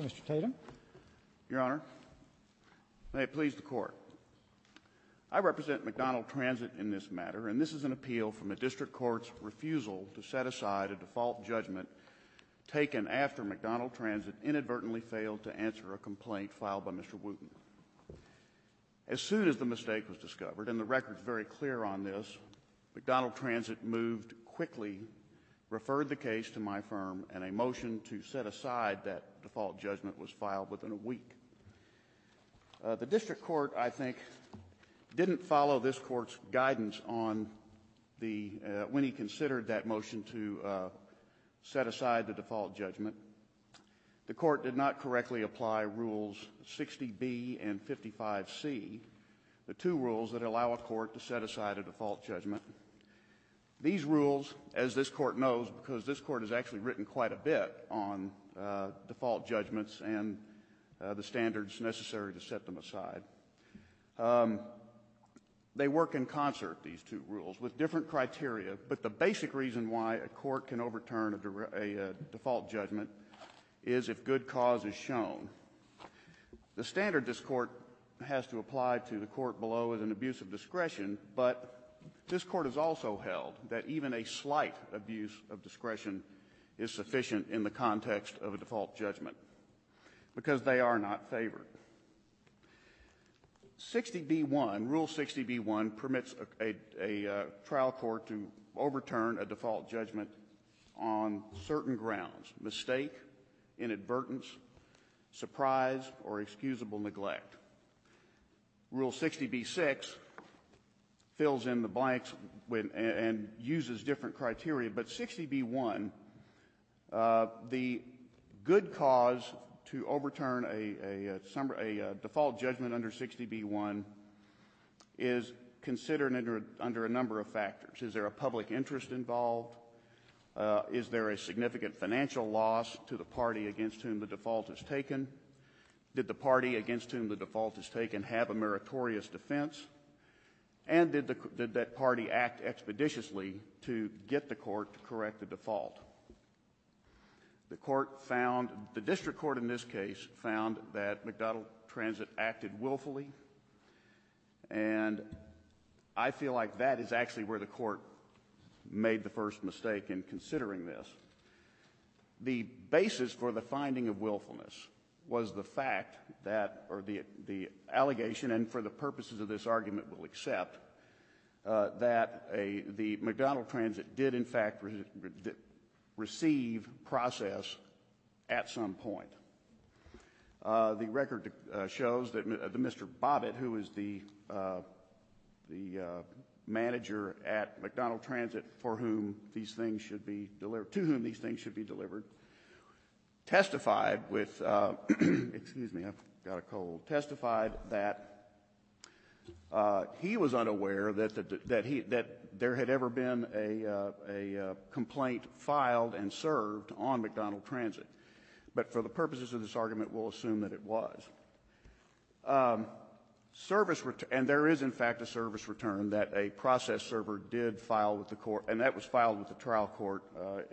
Mr. Tatum Your Honor, may it please the Court. I represent McDonald Transit in this matter, and this is an appeal from a district court's refusal to set aside a default judgment taken after McDonald Transit inadvertently failed to answer a complaint filed by Mr. Wooten. As soon as the mistake was discovered, and the record is very clear on this, McDonald Transit moved quickly, referred the case to my firm, and a motion to set aside that default judgment was filed within a week. The district court, I think, didn't follow this court's guidance when he considered that motion to set aside the default judgment. The court did not correctly apply Rules 60B and 55C, the two rules that allow a court to set aside a default judgment. These rules, as this court knows, because this court has actually written quite a bit on default judgments and the standards necessary to set them aside, they work in concert, these two rules, with different criteria, but the basic reason why a court can overturn a default judgment is if good cause is shown. The standard this court has to apply to the court below is an abuse of discretion, but this court has also held that even a slight abuse of discretion is sufficient in the context of a default judgment, because they are not favored. 60B1, Rule 60B1, permits a trial court to overturn a default judgment on certain grounds, mistake, inadvertence, surprise, or excusable neglect. Rule 60B6 fills in the blanks and uses different criteria, but 60B1, the good cause to overturn a default judgment under 60B1 is considered under a number of factors. Is there a public interest involved? Is there a significant financial loss to the party against whom the default is taken? Did the party against whom the default is taken have a meritorious defense? And did that party act expeditiously to get the court to correct the default? The court found, the district court in this case, found that McDonald Transit acted willfully, and I feel like that is actually where the court made the first mistake in considering this. The basis for the finding of willfulness was the fact that, or the allegation, and for the purposes of this argument we'll accept, that the McDonald Transit did, in fact, receive process at some point. The record shows that Mr. Bobbitt, who is the manager at McDonald Transit for whom these things should be delivered, testified with, excuse me, I've got a cold, testified that he was unaware that there had ever been a complaint filed and served on McDonald Transit, but for the purposes of this argument we'll assume that it was. And there is, in fact, a service return that a process server did file with the court, and that was filed with the trial court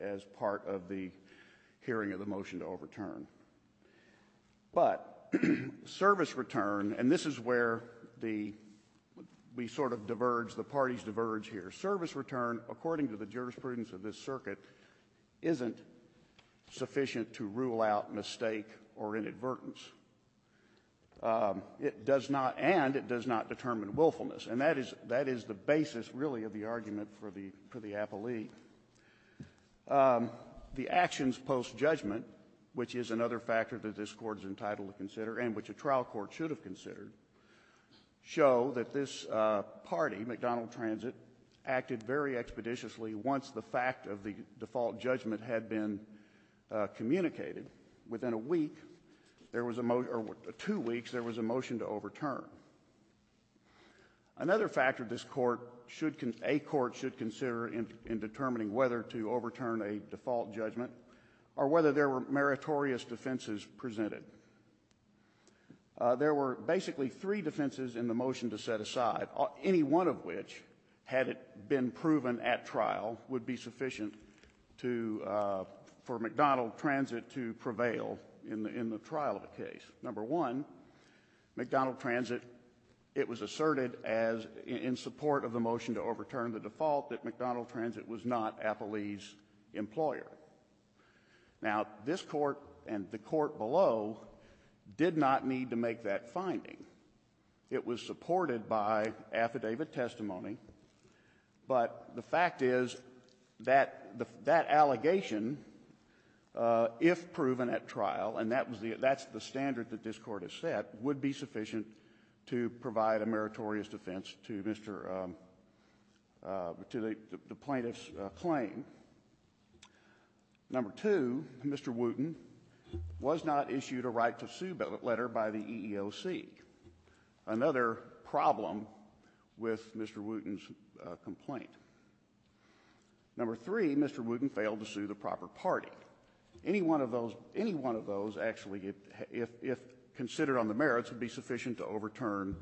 as part of the hearing of the motion to overturn. But service return, and this is where we sort of diverge, the parties diverge here, the service return, according to the jurisprudence of this circuit, isn't sufficient to rule out mistake or inadvertence. It does not, and it does not determine willfulness. And that is the basis, really, of the argument for the appellee. The actions post-judgment, which is another factor that this Court is entitled to consider and which a trial court should have considered, show that this party, McDonald Transit, acted very expeditiously once the fact of the default judgment had been communicated. Within a week, or two weeks, there was a motion to overturn. Another factor a court should consider in determining whether to overturn a default judgment or whether there were meritorious defenses presented. There were basically three defenses in the motion to set aside, any one of which, had it been proven at trial, would be sufficient to – for McDonald Transit to prevail in the trial of the case. Number one, McDonald Transit, it was asserted as, in support of the motion to overturn the default, that McDonald Transit was not appellee's employer. Now, this Court and the Court below did not need to make that finding. It was supported by affidavit testimony. But the fact is that that allegation, if proven at trial, and that's the standard that this Court has set, would be sufficient to provide a meritorious defense to the plaintiff's claim. Number two, Mr. Wooten was not issued a right to sue letter by the EEOC, another problem with Mr. Wooten's complaint. Number three, Mr. Wooten failed to sue the proper party. Any one of those, actually, if considered on the merits, would be sufficient to overturn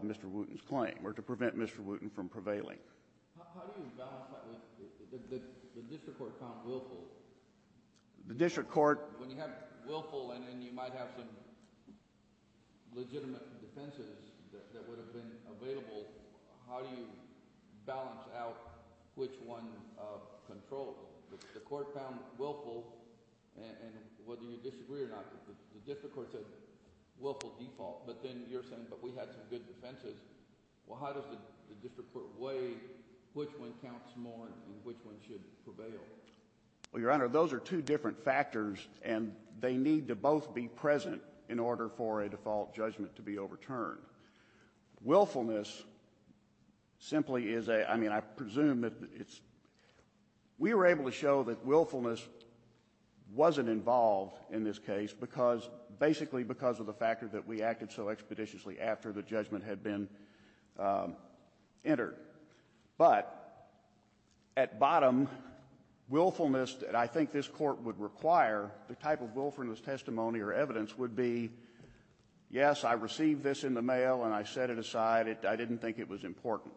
Mr. Wooten's claim or to prevent Mr. Wooten from prevailing. How do you balance that with the district court found willful? The district court— When you have willful and then you might have some legitimate defenses that would have been available, how do you balance out which one controls? The court found willful, and whether you disagree or not, the district court said willful default, but then you're saying, but we had some good defenses. Well, how does the district court weigh which one counts more and which one should prevail? Well, Your Honor, those are two different factors, and they need to both be present in order for a default judgment to be overturned. Willfulness simply is a—I mean, I presume that it's— We were able to show that willfulness wasn't involved in this case basically because of the fact that we acted so expeditiously after the judgment had been entered. But at bottom, willfulness that I think this Court would require, the type of willfulness testimony or evidence would be, yes, I received this in the mail and I set it aside. I didn't think it was important.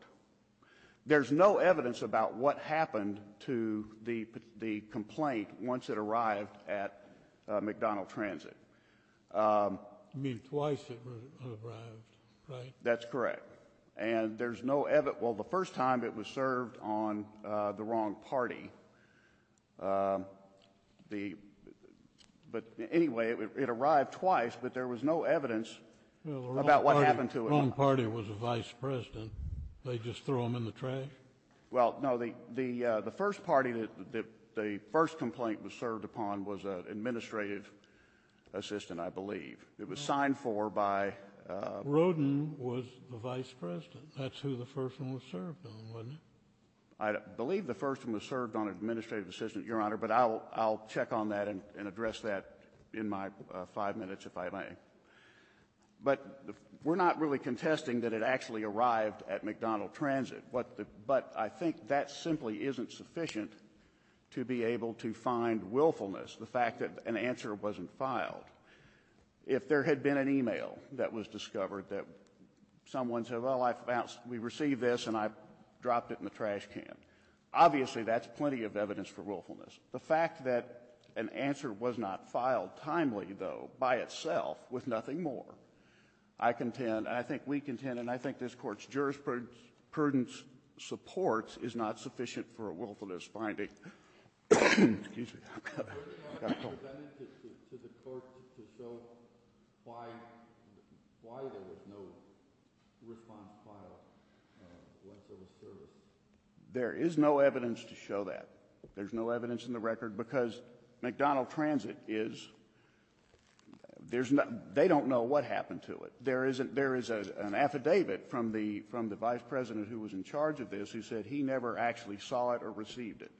There's no evidence about what happened to the complaint once it arrived at McDonald Transit. You mean twice it arrived, right? That's correct. And there's no—well, the first time it was served on the wrong party. But anyway, it arrived twice, but there was no evidence about what happened to it. Well, the wrong party was the vice president. Did they just throw him in the trash? Well, no, the first party that the first complaint was served upon was an administrative assistant, I believe. It was signed for by— Rodin was the vice president. That's who the first one was served on, wasn't it? I believe the first one was served on an administrative assistant, Your Honor, but I'll check on that and address that in my five minutes if I may. But we're not really contesting that it actually arrived at McDonald Transit. But I think that simply isn't sufficient to be able to find willfulness, the fact that an answer wasn't filed. If there had been an email that was discovered that someone said, well, we received this and I dropped it in the trash can, obviously that's plenty of evidence for willfulness. The fact that an answer was not filed timely, though, by itself with nothing more, I contend, and I think we contend, and I think this Court's jurisprudence supports is not sufficient for a willfulness finding. Excuse me. I've got a cold. There's no evidence to the Court to show why there was no response filed once there was service. There is no evidence to show that. There's no evidence in the record because McDonald Transit is— they don't know what happened to it. There is an affidavit from the vice president who was in charge of this who said he never actually saw it or received it.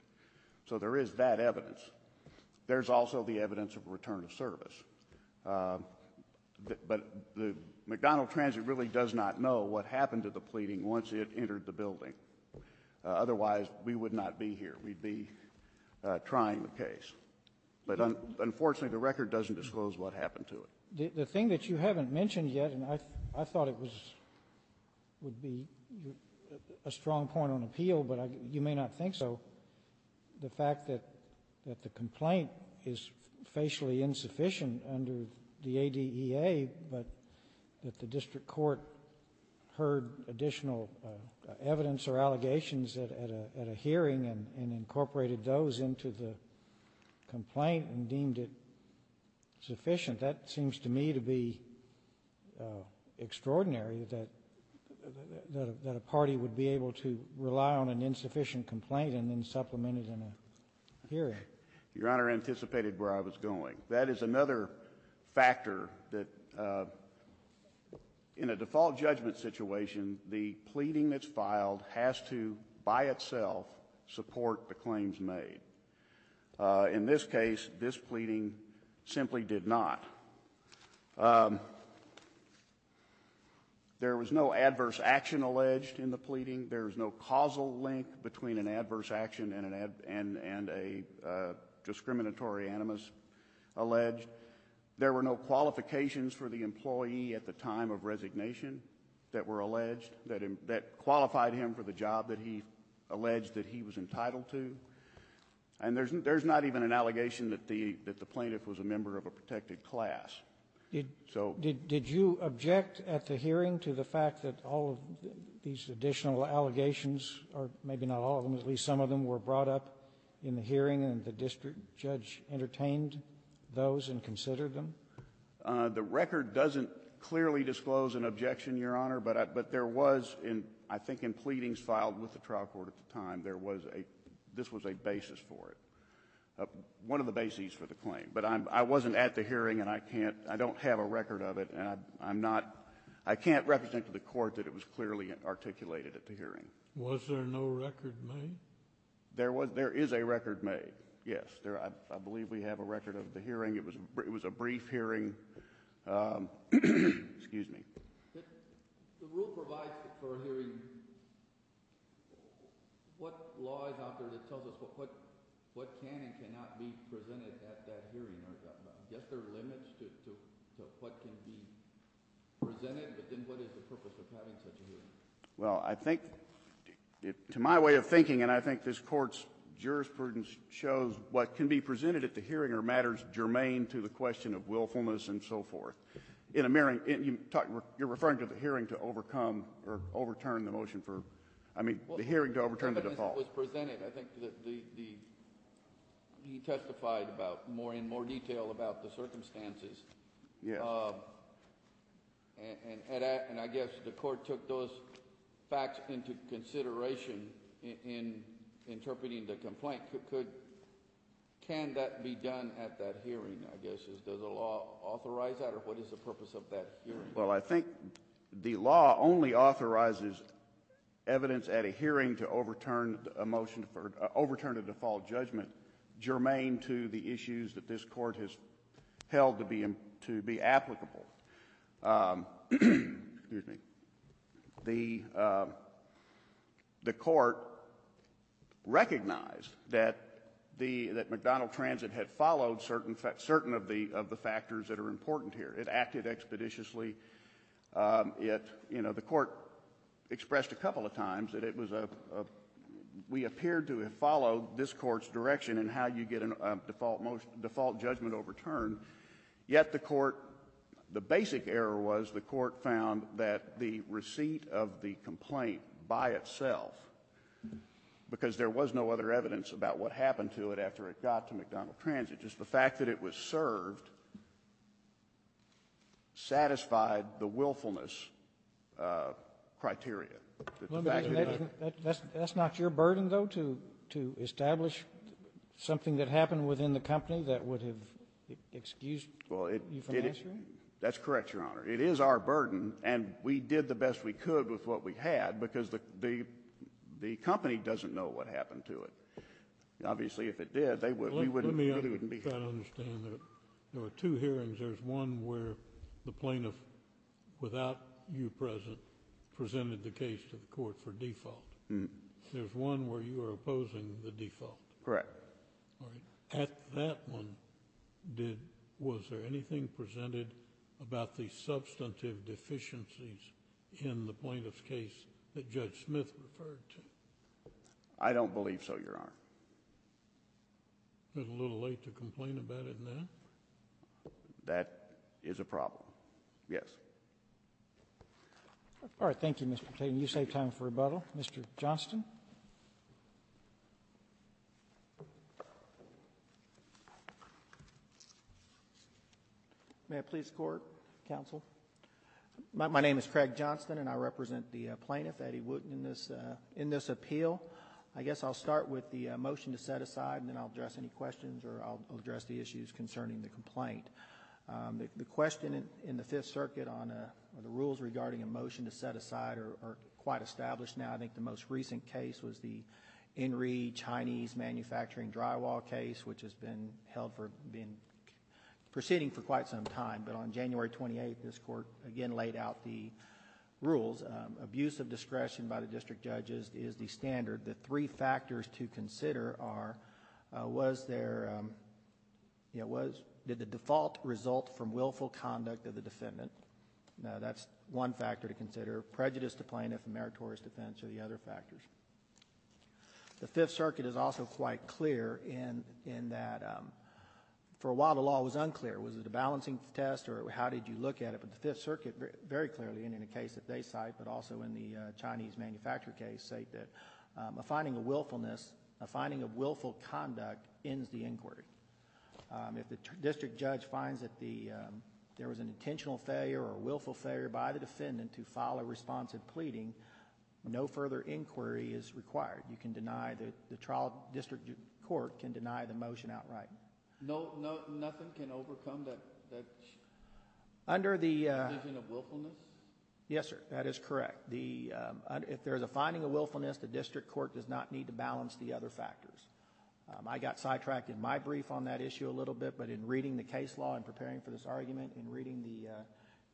So there is that evidence. There's also the evidence of return of service. But McDonald Transit really does not know what happened to the pleading once it entered the building. Otherwise, we would not be here. We'd be trying the case. But unfortunately, the record doesn't disclose what happened to it. The thing that you haven't mentioned yet, and I thought it was — would be a strong point on appeal, but you may not think so, the fact that the complaint is facially insufficient under the ADEA, but that the district court heard additional evidence or allegations at a hearing and incorporated those into the complaint and deemed it sufficient. That seems to me to be extraordinary, that a party would be able to rely on an insufficient complaint and then supplement it in a hearing. Your Honor anticipated where I was going. That is another factor that, in a default judgment situation, the pleading that's filed has to, by itself, support the claims made. In this case, this pleading simply did not. There was no adverse action alleged in the pleading. There is no causal link between an adverse action and a discriminatory animus alleged. There were no qualifications for the employee at the time of resignation that were alleged that qualified him for the job that he alleged that he was entitled to. And there's not even an allegation that the plaintiff was a member of a protected class. So ---- Did you object at the hearing to the fact that all of these additional allegations or maybe not all of them, at least some of them, were brought up in the hearing and the district judge entertained those and considered them? The record doesn't clearly disclose an objection, Your Honor, but there was, I think in pleadings filed with the trial court at the time, there was a ---- this was a basis for it, one of the bases for the claim. But I wasn't at the hearing and I can't ---- I don't have a record of it and I'm not ---- I can't represent to the Court that it was clearly articulated at the hearing. Was there no record made? There is a record made, yes. I believe we have a record of the hearing. It was a brief hearing. Excuse me. The rule provides for a hearing. What law is out there that tells us what can and cannot be presented at that hearing? Are there limits to what can be presented? But then what is the purpose of having such a hearing? Well, I think, to my way of thinking, and I think this Court's jurisprudence shows what can be presented at the hearing are matters germane to the question of willfulness and so forth. You're referring to the hearing to overcome or overturn the motion for ---- I mean, the hearing to overturn the default. It was presented. I think that the ---- he testified about more in more detail about the circumstances. Yes. And I guess the Court took those facts into consideration in interpreting the complaint. Can that be done at that hearing, I guess? Does the law authorize that, or what is the purpose of that hearing? Well, I think the law only authorizes evidence at a hearing to overturn a motion for ---- overturn a default judgment germane to the issues that this Court has held to be applicable. The Court recognized that the ---- that McDonnell Transit had followed certain of the factors that are important here. It acted expeditiously. It, you know, the Court expressed a couple of times that it was a ---- we appeared to have followed this Court's direction in how you get a default judgment overturned. Yet the Court ---- the basic error was the Court found that the receipt of the complaint by itself, because there was no other evidence about what happened to it after it got to McDonnell Transit, just the fact that it was served satisfied the willfulness criteria. That the fact that it ---- That's not your burden, though, to establish something that happened within the company that would have excused you from answering? That's correct, Your Honor. It is our burden, and we did the best we could with what we had, because the company doesn't know what happened to it. Obviously, if it did, we wouldn't be here. Let me try to understand that. There were two hearings. There was one where the plaintiff, without you present, presented the case to the Court for default. There was one where you were opposing the default. Correct. All right. At that one, did ---- was there anything presented about the substantive deficiencies in the plaintiff's case that Judge Smith referred to? I don't believe so, Your Honor. Is it a little late to complain about it now? That is a problem. Yes. All right. Thank you, Mr. Patain. Thank you. You save time for rebuttal. Mr. Johnston. May I please court, counsel? My name is Craig Johnston, and I represent the plaintiff, Eddie Wooten, in this appeal. I guess I'll start with the motion to set aside, and then I'll address any questions, or I'll address the issues concerning the complaint. The question in the Fifth Circuit on the rules regarding a motion to set aside are quite established now. I think the most recent case was the Enri Chinese Manufacturing Drywall case which has been held for... been proceeding for quite some time, but on January 28th, this Court again laid out the rules. Abuse of discretion by the district judges is the standard. The three factors to consider are, was there... did the default result from willful That's one factor to consider. Prejudice to plaintiff and meritorious defense are the other factors. The Fifth Circuit is also quite clear in that, for a while, the law was unclear. Was it a balancing test, or how did you look at it? But the Fifth Circuit very clearly, and in a case that they cite, but also in the Chinese Manufacturing case, say that a finding of willfulness, a finding of willful conduct ends the inquiry. If the district judge finds that there was an intentional failure or willful failure by the defendant to file a response in pleading, no further inquiry is required. You can deny... the trial district court can deny the motion outright. Nothing can overcome that... Under the...... condition of willfulness? Yes, sir. That is correct. If there is a finding of willfulness, the district court does not need to balance the other factors. I got sidetracked in my brief on that issue a little bit, but in reading the case law and preparing for this argument, and reading the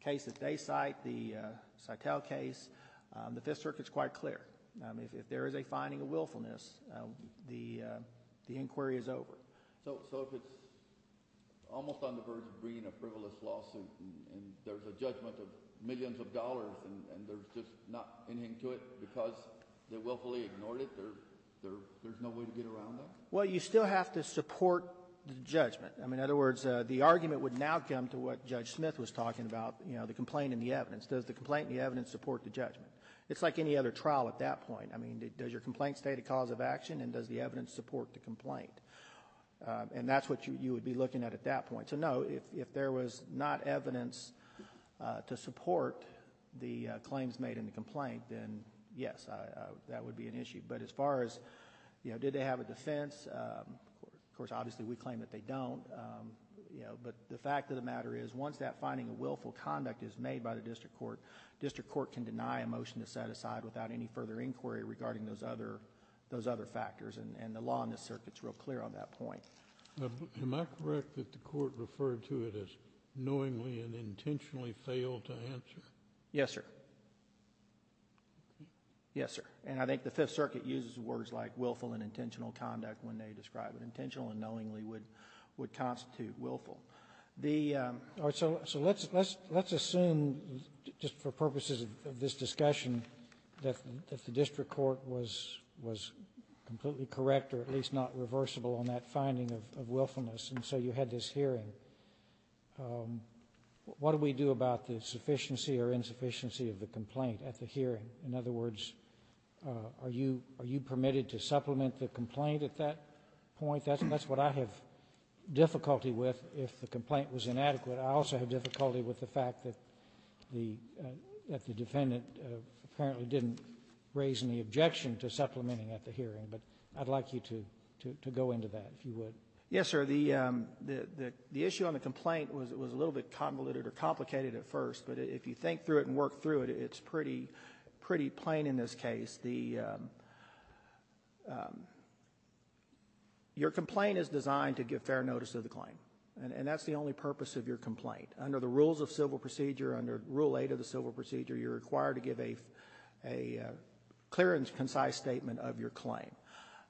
case that they cite, the Citel case, the Fifth Circuit is quite clear. If there is a finding of willfulness, the inquiry is over. So, if it's almost on the verge of bringing a frivolous lawsuit, and there's a judgment of millions of dollars, and there's just not anything to it because they willfully ignored it, there's no way to get around that? Well, you still have to support the judgment. In other words, the argument would now come to what Judge Smith was talking about, the complaint and the evidence. Does the complaint and the evidence support the judgment? It's like any other trial at that point. Does your complaint state a cause of action, and does the evidence support the complaint? And that's what you would be looking at at that point. So no, if there was not evidence to support the claims made in the complaint, then yes, that would be an issue. But as far as, you know, did they have a defense, of course, obviously, we claim that they don't. But the fact of the matter is, once that finding of willful conduct is made by the district court, district court can deny a motion to set aside without any further inquiry regarding those other factors, and the law in this circuit is real clear on that point. Am I correct that the court referred to it as knowingly and intentionally failed to answer? Yes, sir. Yes, sir. And I think the Fifth Circuit uses words like willful and intentional conduct when they describe it. Intentional and knowingly would constitute willful. The... All right. So let's assume, just for purposes of this discussion, that the district court was completely correct or at least not reversible on that finding of willfulness, and so you had this hearing. What do we do about the sufficiency or insufficiency of the complaint at the hearing? In other words, are you permitted to supplement the complaint at that point? That's what I have difficulty with if the complaint was inadequate. I also have difficulty with the fact that the defendant apparently didn't raise any objection to supplementing at the hearing, but I'd like you to go into that, if you would. Yes, sir. The issue on the complaint was a little bit convoluted or complicated at first, but if you think through it and work through it, it's pretty plain in this case. Your complaint is designed to give fair notice of the claim, and that's the only purpose of your complaint. Under the Rules of Civil Procedure, under Rule 8 of the Civil Procedure, you're required to give a clear and concise statement of your claim.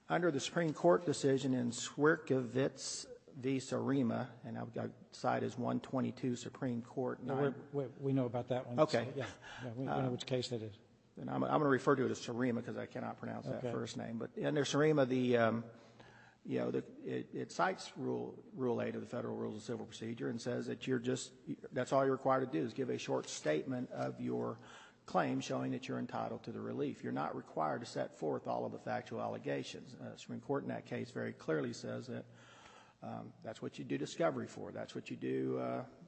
Under the Supreme Court decision in Swierkiewicz v. Surema, and I cite as 122 Supreme Court 9... We know about that one. Okay. Yeah. We know which case that is. I'm going to refer to it as Surema because I cannot pronounce that first name, but under Surema, you know, it cites Rule 8 of the Federal Rules of Civil Procedure and says that you're just, that's all you're required to do is give a short statement of your claim showing that you're entitled to the relief. You're not required to set forth all of the factual allegations. The Supreme Court in that case very clearly says that that's what you do discovery for. That's what you do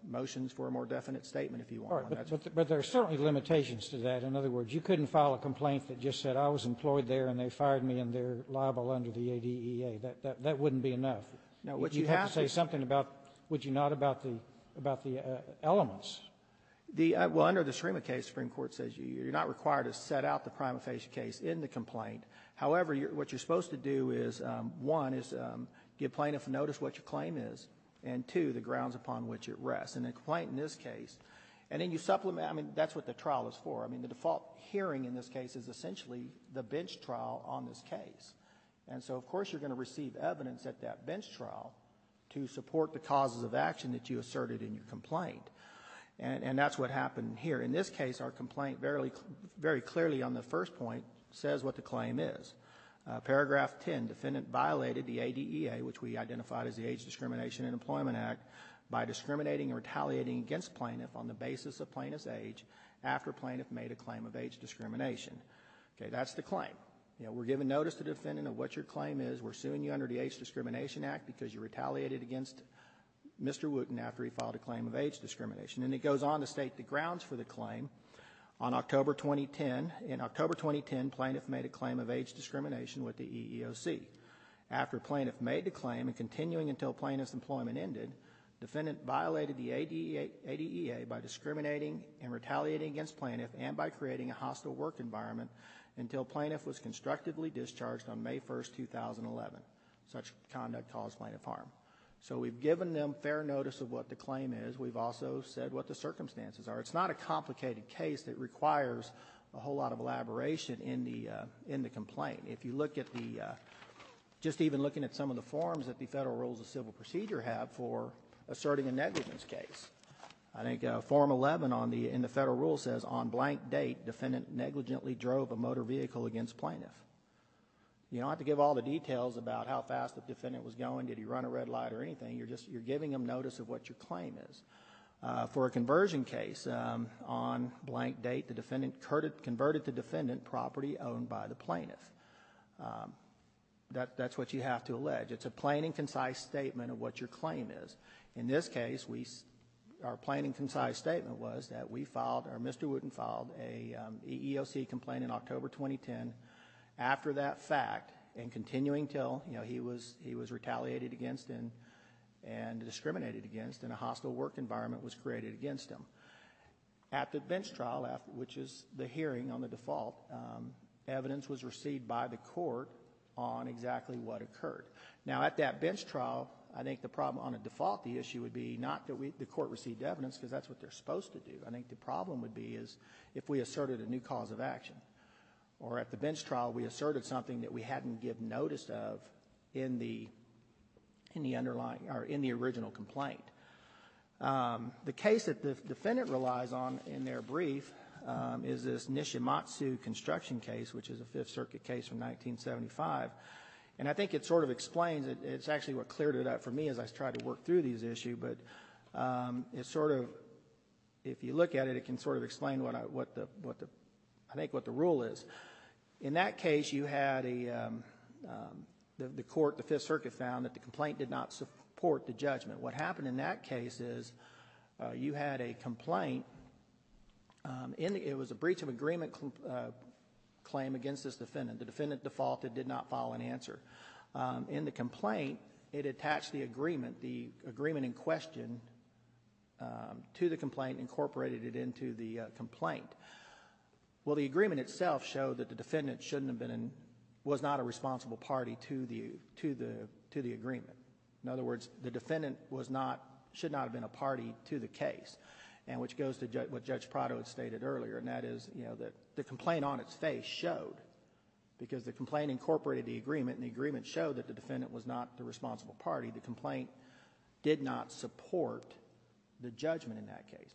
motions for a more definite statement if you want. All right, but there are certainly limitations to that. In other words, you couldn't file a complaint that just said I was employed there and they fired me and they're liable under the ADEA. That wouldn't be enough. Now, what you have to say something about, would you not, about the elements? Well, under the Surema case, the Supreme Court says you're not required to set out the prima facie case in the complaint. However, what you're supposed to do is, one, is give plaintiffs notice what your claim is, and two, the grounds upon which it rests. In a complaint in this case, and then you supplement, I mean, that's what the trial is for. I mean, the default hearing in this case is essentially the bench trial on this case. And so, of course, you're going to receive evidence at that bench trial to support the causes of action that you asserted in your complaint. And that's what happened here. In this case, our complaint very clearly on the first point says what the claim is. Paragraph 10, defendant violated the ADEA, which we identified as the Age Discrimination and Employment Act, by discriminating and retaliating against plaintiff on the basis of plaintiff's age after plaintiff made a claim of age discrimination. Okay, that's the claim. We're giving notice to the defendant of what your claim is, we're suing you under the Age Discrimination Act because you retaliated against Mr. Wooten after he filed a claim of age discrimination. And it goes on to state the grounds for the claim. On October 2010, in October 2010, plaintiff made a claim of age discrimination with the EEOC. After plaintiff made the claim and continuing until plaintiff's employment ended, defendant violated the ADEA by discriminating and retaliating against plaintiff and by creating a hostile work environment until plaintiff was constructively discharged on May 1, 2011. Such conduct caused plaintiff harm. So we've given them fair notice of what the claim is. We've also said what the circumstances are. It's not a complicated case that requires a whole lot of elaboration in the complaint. If you look at the, just even looking at some of the forms that the Federal Rules of Civil Procedure have for asserting a negligence case, I think form 11 in the Federal Rules says on blank date, defendant negligently drove a motor vehicle against plaintiff. You don't have to give all the details about how fast the defendant was going, did he run a red light or anything, you're giving them notice of what your claim is. For a conversion case, on blank date the defendant converted the defendant property owned by the plaintiff. That's what you have to allege. It's a plain and concise statement of what your claim is. In this case, our plain and concise statement was that we filed, or Mr. Wooten filed a EEOC complaint in October 2010. After that fact, and continuing until he was retaliated against and discriminated against and a hostile work environment was created against him. At the bench trial, which is the hearing on the default, evidence was received by the court on exactly what occurred. Now at that bench trial, I think the problem on a default, the issue would be not that the court received evidence because that's what they're supposed to do. I think the problem would be is if we asserted a new cause of action, or at the bench trial we asserted something that we hadn't given notice of in the original complaint. The case that the defendant relies on in their brief is this Nishimatsu construction case, which is a Fifth Circuit case from 1975. And I think it sort of explains, it's actually what cleared it up for me as I tried to work through these issues, but it sort of, if you look at it, it can sort of explain what the rule is. In that case, you had a, the court, the Fifth Circuit found that the complaint did not support the judgment. What happened in that case is you had a complaint, it was a breach of agreement claim against this defendant. The defendant defaulted, did not file an answer. In the complaint, it attached the agreement, the agreement in question to the complaint, incorporated it into the complaint. Well, the agreement itself showed that the defendant shouldn't have been, was not a responsible party to the agreement. In other words, the defendant was not, should not have been a party to the case. And which goes to what Judge Prado had stated earlier, and that is, you know, the complaint on its face showed, because the complaint incorporated the agreement and the agreement showed that the defendant was not the responsible party, the complaint did not support the judgment in that case.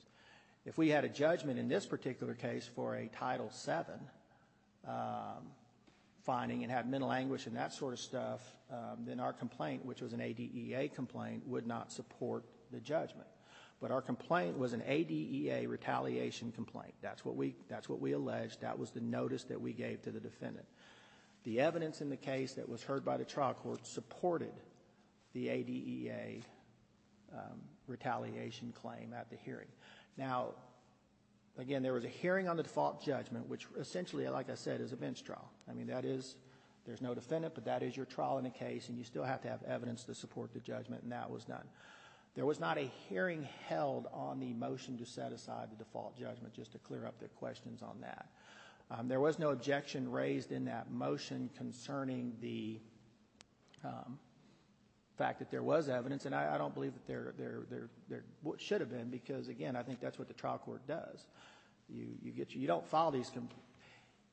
If we had a judgment in this particular case for a Title VII finding and had mental anguish and that sort of stuff, then our complaint, which was an ADEA complaint, would not support the judgment. But our complaint was an ADEA retaliation complaint. That's what we, that's what we alleged, that was the notice that we gave to the defendant. The evidence in the case that was heard by the trial court supported the ADEA retaliation claim at the hearing. Now, again, there was a hearing on the default judgment, which essentially, like I said, is a bench trial. I mean, that is, there's no defendant, but that is your trial in a case and you still have to have evidence to support the judgment, and that was done. There was not a hearing held on the motion to set aside the default judgment, just to clear up their questions on that. There was no objection raised in that motion concerning the fact that there was evidence, and I don't believe that there should have been, because, again, I think that's what the trial court does. You get your, you don't follow these,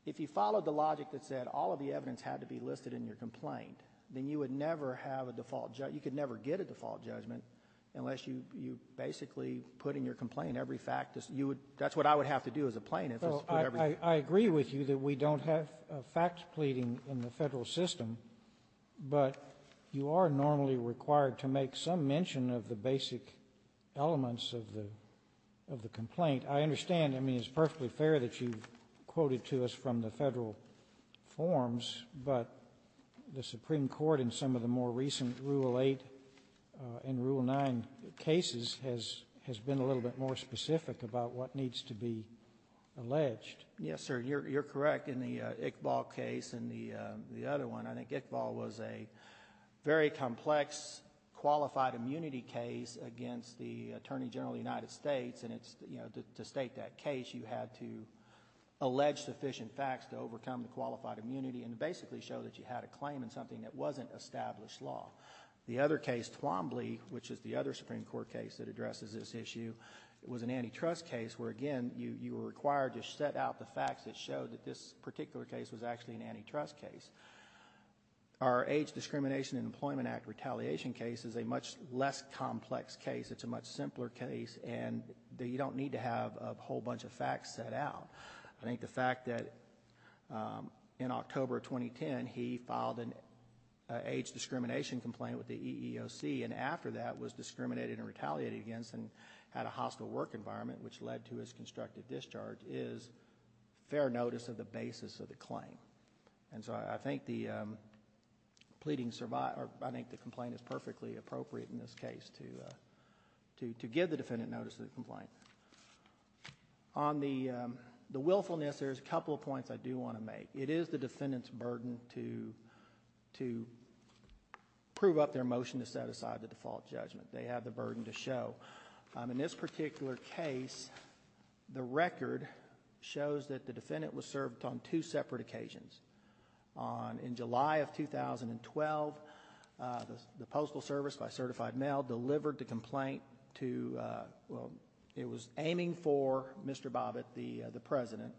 if you followed the logic that said all of the evidence had to be listed in your complaint, then you would never have a default, you could never get a default judgment unless you basically put in your complaint every fact, you would, that's what I would have to do as a plaintiff is put every fact. Sotomayor, I agree with you that we don't have fact pleading in the Federal system, but you are normally required to make some mention of the basic elements of the complaint. I understand, I mean, it's perfectly fair that you've quoted to us from the Federal forms, but the Supreme Court in some of the more recent Rule 8 and Rule 9 cases has been a little bit more specific about what needs to be alleged. Yes, sir, you're correct. In the Iqbal case and the other one, I think Iqbal was a very complex qualified immunity case against the Attorney General of the United States, and it's, you know, to state that case you had to allege sufficient facts to overcome the qualified immunity and basically show that you had a claim in something that wasn't established law. The other case, Twombly, which is the other Supreme Court case that addresses this issue, was an antitrust case where, again, you were required to set out the facts that showed that this particular case was actually an antitrust case. Our Age Discrimination and Employment Act Retaliation case is a much less complex case. It's a much simpler case, and you don't need to have a whole bunch of facts set out. I think the fact that in October 2010, he filed an age discrimination complaint with the EEOC and after that was discriminated and retaliated against and had a hostile work environment, which led to his constructive discharge, is fair notice of the basis of the claim. And so, I think the complaint is perfectly appropriate in this case to give the defendant notice of the complaint. On the willfulness, there's a couple of points I do want to make. It is the defendant's burden to prove up their motion to set aside the default judgment. They have the burden to show. In this particular case, the record shows that the defendant was served on two separate occasions. In July of 2012, the Postal Service, by certified mail, delivered the complaint to, well, it was aiming for Mr. Bobbitt, the President,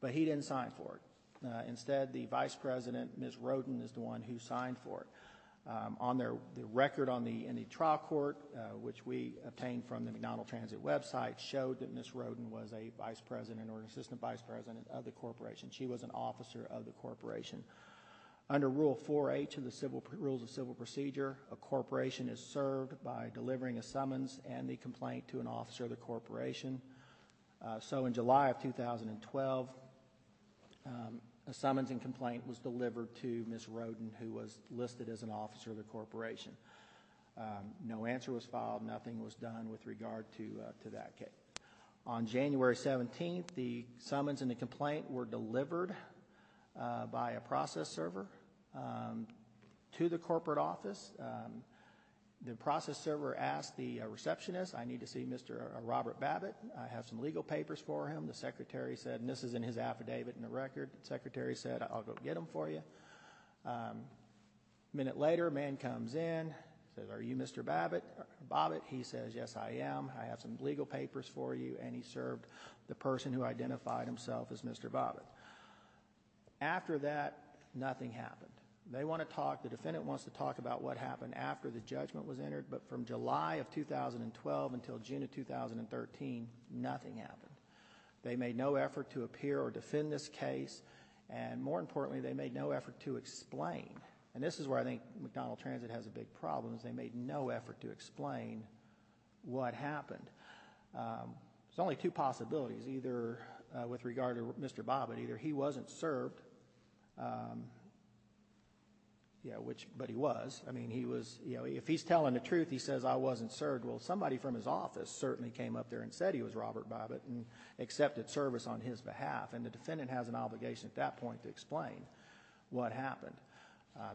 but he didn't sign for it. Instead, the Vice President, Ms. Roden, is the one who signed for it. On their record in the trial court, which we obtained from the McDonnell Transit website, showed that Ms. Roden was a Vice President or Assistant Vice President of the corporation. She was an officer of the corporation. Under Rule 4H of the Rules of Civil Procedure, a corporation is served by delivering a summons and the complaint to an officer of the corporation. So in July of 2012, a summons and complaint was delivered to Ms. Roden, who was listed as an officer of the corporation. No answer was filed. Nothing was done with regard to that case. On January 17th, the summons and the complaint were delivered by a process server to the corporate office. The process server asked the receptionist, I need to see Mr. Robert Bobbitt. I have some legal papers for him. The secretary said, and this is in his affidavit in the record, the secretary said, I'll go get them for you. A minute later, a man comes in, says, are you Mr. Bobbitt? He says, yes, I am. I have some legal papers for you, and he served the person who identified himself as Mr. Bobbitt. After that, nothing happened. They want to talk, the defendant wants to talk about what happened after the judgment was entered, but from July of 2012 until June of 2013, nothing happened. They made no effort to appear or defend this case, and more importantly, they made no effort to explain, and this is where I think McDonnell Transit has a big problem, is they made no effort to explain what happened. There's only two possibilities, either with regard to Mr. Bobbitt, either he wasn't served by Mr. Bobbitt, which, but he was, I mean, he was, if he's telling the truth, he says I wasn't served. Well, somebody from his office certainly came up there and said he was Robert Bobbitt and accepted service on his behalf, and the defendant has an obligation at that point to explain what happened.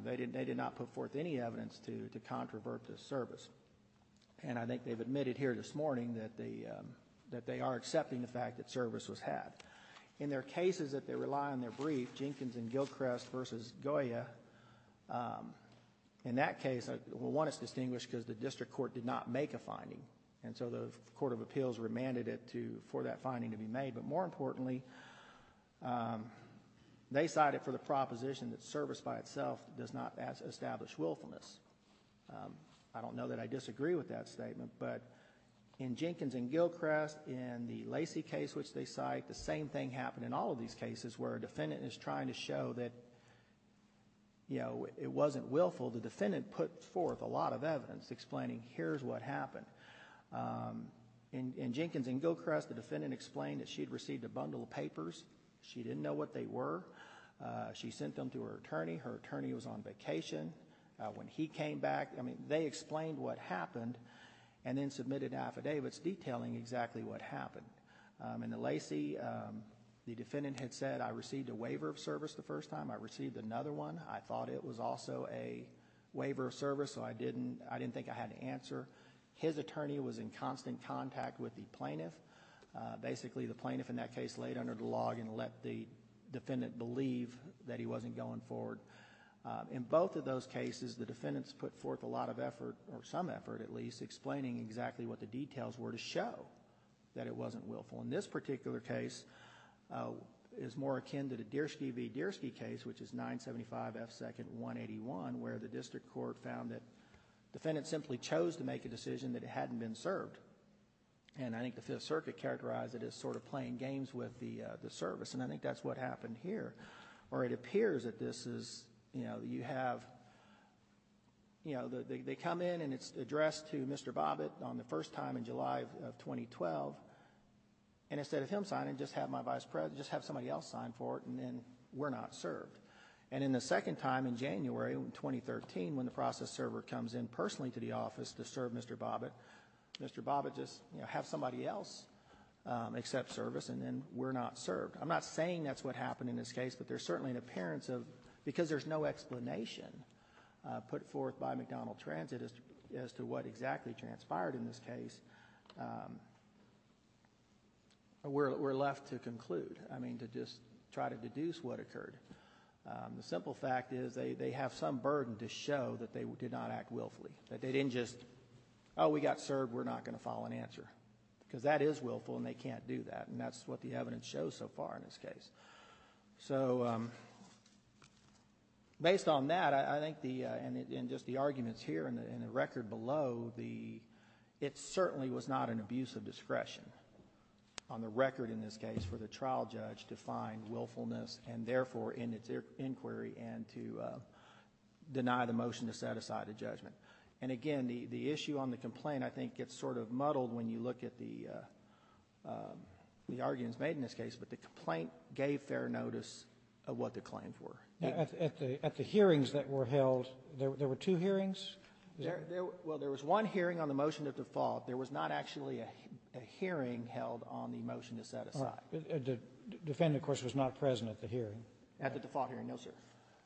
They did not put forth any evidence to controvert this service, and I think they've admitted here this morning that they are accepting the fact that service was had. In their cases that they rely on in their brief, Jenkins and Gilchrest versus Goya, in that case, well, one is distinguished because the district court did not make a finding, and so the Court of Appeals remanded it for that finding to be made, but more importantly, they cited for the proposition that service by itself does not establish willfulness. I don't know that I disagree with that statement, but in Jenkins and Gilchrest, in the Lacey case which they cite, the same thing happened in all of these cases where a defendant is trying to show that, you know, it wasn't willful. The defendant put forth a lot of evidence explaining here's what happened. In Jenkins and Gilchrest, the defendant explained that she'd received a bundle of papers. She didn't know what they were. She sent them to her attorney. Her attorney was on vacation. When he came back, I mean, they explained what happened and then submitted affidavits detailing exactly what happened. In the Lacey, the defendant had said, I received a waiver of service the first time. I received another one. I thought it was also a waiver of service, so I didn't think I had an answer. His attorney was in constant contact with the plaintiff. Basically, the plaintiff in that case laid under the log and let the defendant believe that he wasn't going forward. In both of those cases, the defendants put forth a lot of effort, or some effort at least, explaining exactly what the details were to show that it wasn't willful. In this particular case, it's more akin to the Deerski v. Deerski case, which is 975 F. 2nd 181, where the district court found that the defendant simply chose to make a decision that it hadn't been served. I think the Fifth Circuit characterized it as sort of playing games with the service. I think that's what happened here. They come in and it's addressed to Mr. Bobbitt on the first time in July of 2012, and instead of him signing, just have my vice president, just have somebody else sign for it, and then we're not served. In the second time in January of 2013, when the process server comes in personally to the office to serve Mr. Bobbitt, Mr. Bobbitt just has somebody else accept service, and then we're not served. I'm not saying that's what happened in this case, but there's certainly an appearance of, because there's no explanation put forth by McDonald Transit as to what exactly transpired in this case, we're left to conclude, I mean, to just try to deduce what occurred. The simple fact is they have some burden to show that they did not act willfully, that they didn't just, oh, we got served, we're not going to file an answer, because that is willful and they can't do that, and that's what the evidence shows so far in this case. Based on that, I think, and just the arguments here and the record below, it certainly was not an abuse of discretion on the record in this case for the trial judge to find willfulness and therefore, in its inquiry, and to deny the motion to set aside a judgment, and again, the issue on the complaint, I think, gets sort of muddled when you look at the arguments made in this case, but the complaint gave fair notice of what the claims were. At the hearings that were held, there were two hearings? Well, there was one hearing on the motion to default. There was not actually a hearing held on the motion to set aside. The defendant, of course, was not present at the hearing. At the default hearing, no, sir.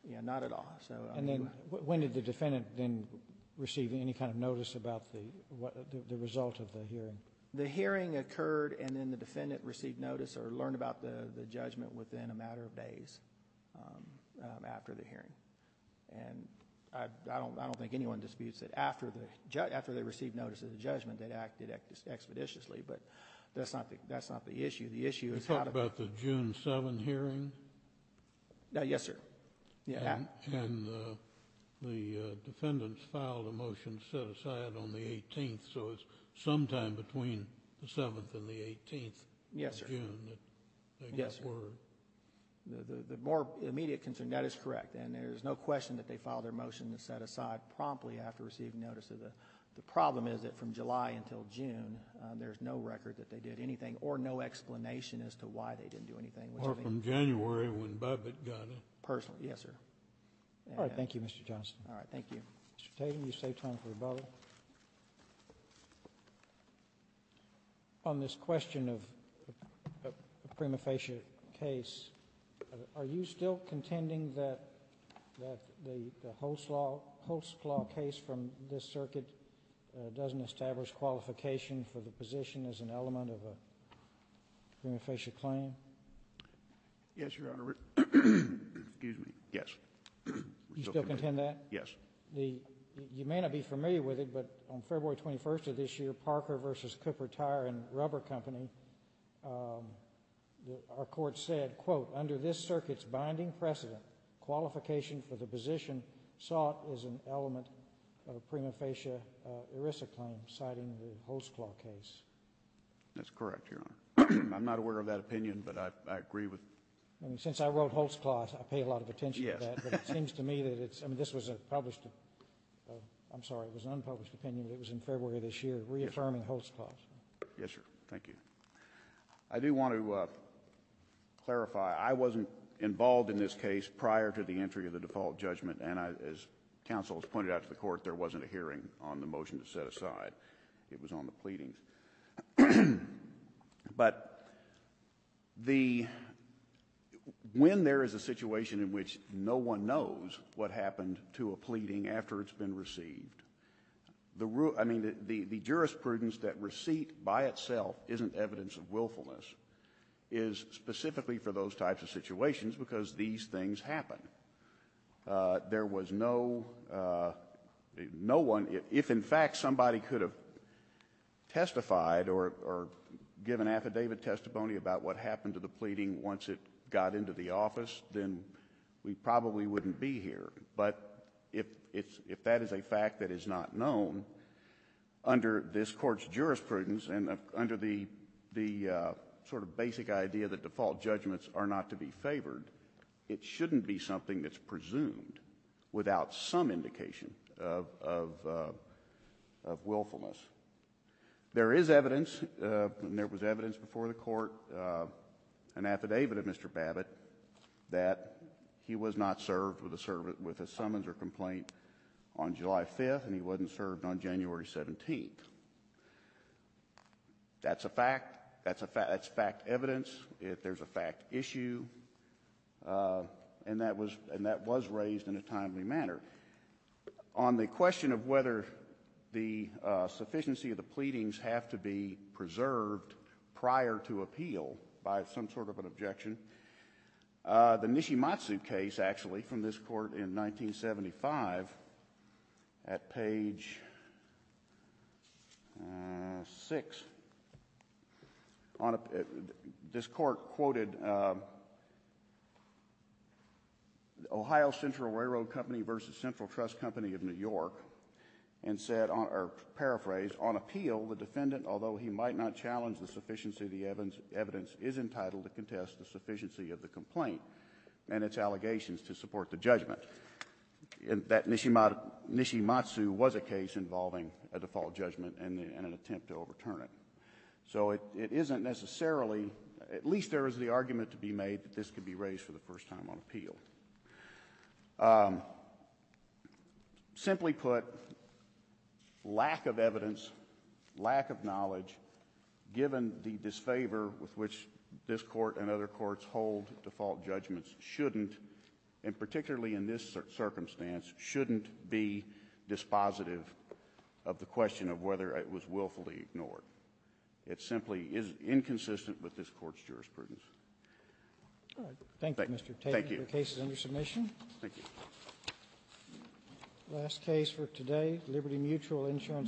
Yeah, not at all. And then, when did the defendant then receive any kind of notice about the result of the hearing? The hearing occurred and then the defendant received notice or learned about the judgment within a matter of days after the hearing, and I don't think anyone disputes that after they received notice of the judgment, they acted expeditiously, but that's not the issue. The issue is how to- You're talking about the June 7 hearing? Yes, sir. Yeah. And the defendants filed a motion to set aside on the 18th, so it's sometime between the 7th and the 18th of June that they got word? Yes, sir. The more immediate concern, that is correct, and there's no question that they filed their motion to set aside promptly after receiving notice of the- The problem is that from July until June, there's no record that they did anything or no explanation as to why they didn't do anything, which I think- Or from January when Babbitt got it. Personally, yes, sir. All right. Thank you, Mr. Johnston. All right. Thank you. Mr. Tatum, you saved time for rebuttal. On this question of a prima facie case, are you still contending that the host law case from this circuit doesn't establish qualification for the position as an element of a prima facie claim? Yes, Your Honor. Excuse me. Yes. You still contend that? Yes. You may not be familiar with it, but on February 21st of this year, Parker v. Cooper Tire & Rubber Company, our court said, quote, under this circuit's binding precedent, qualification for the position sought is an element of a prima facie ERISA claim, citing the host law case. That's correct, Your Honor. I'm not aware of that opinion, but I agree with- I mean, since I wrote host clause, I pay a lot of attention to that, but it seems to me that it's- I mean, this was a published- I'm sorry, it was an unpublished opinion, but it was in February of this year, reaffirming host clause. Yes, sir. Thank you. I do want to clarify, I wasn't involved in this case prior to the entry of the default judgment, and as counsel has pointed out to the court, there wasn't a hearing on the motion to set aside. It was on the pleadings. But the- when there is a situation in which no one knows what happened to a pleading after it's been received, the- I mean, the jurisprudence that receipt by itself isn't evidence of willfulness is specifically for those types of situations, because these things happen. There was no- no one- if, in fact, somebody could have testified that there was a pleading verified, or given affidavit testimony about what happened to the pleading once it got into the office, then we probably wouldn't be here. But if that is a fact that is not known, under this Court's jurisprudence, and under the sort of basic idea that default judgments are not to be favored, it shouldn't be something that's presumed without some indication of willfulness. There is evidence, and there was evidence before the Court, an affidavit of Mr. Babbitt, that he was not served with a summonser complaint on July 5th, and he wasn't served on January 17th. That's a fact, that's fact evidence, there's a fact issue, and that was raised in a timely manner. On the question of whether the sufficiency of the pleadings have to be preserved prior to appeal, by some sort of an objection, the Nishimatsu case, actually, from this Court in 1975, at page 6, this Court quoted Ohio Central Railroad Company versus Central Trust Company of New York, and said, or paraphrased, on appeal, the defendant, although he might not challenge the sufficiency of the evidence, is entitled to contest the sufficiency of the complaint and its allegations to support the judgment. That Nishimatsu was a case involving a default judgment and an attempt to overturn it. So it isn't necessarily, at least there is the argument to be made that this could be raised for the first time on appeal. Simply put, lack of evidence, lack of knowledge, given the disfavor with which this Court and other courts hold default judgments, shouldn't, and particularly in this circumstance, shouldn't be dispositive of the question of whether it was willfully ignored. It simply is inconsistent with this Court's jurisprudence. Thank you, Mr. Tate. Thank you. The case is under submission. Thank you. The last case for today, Liberty Mutual Insurance.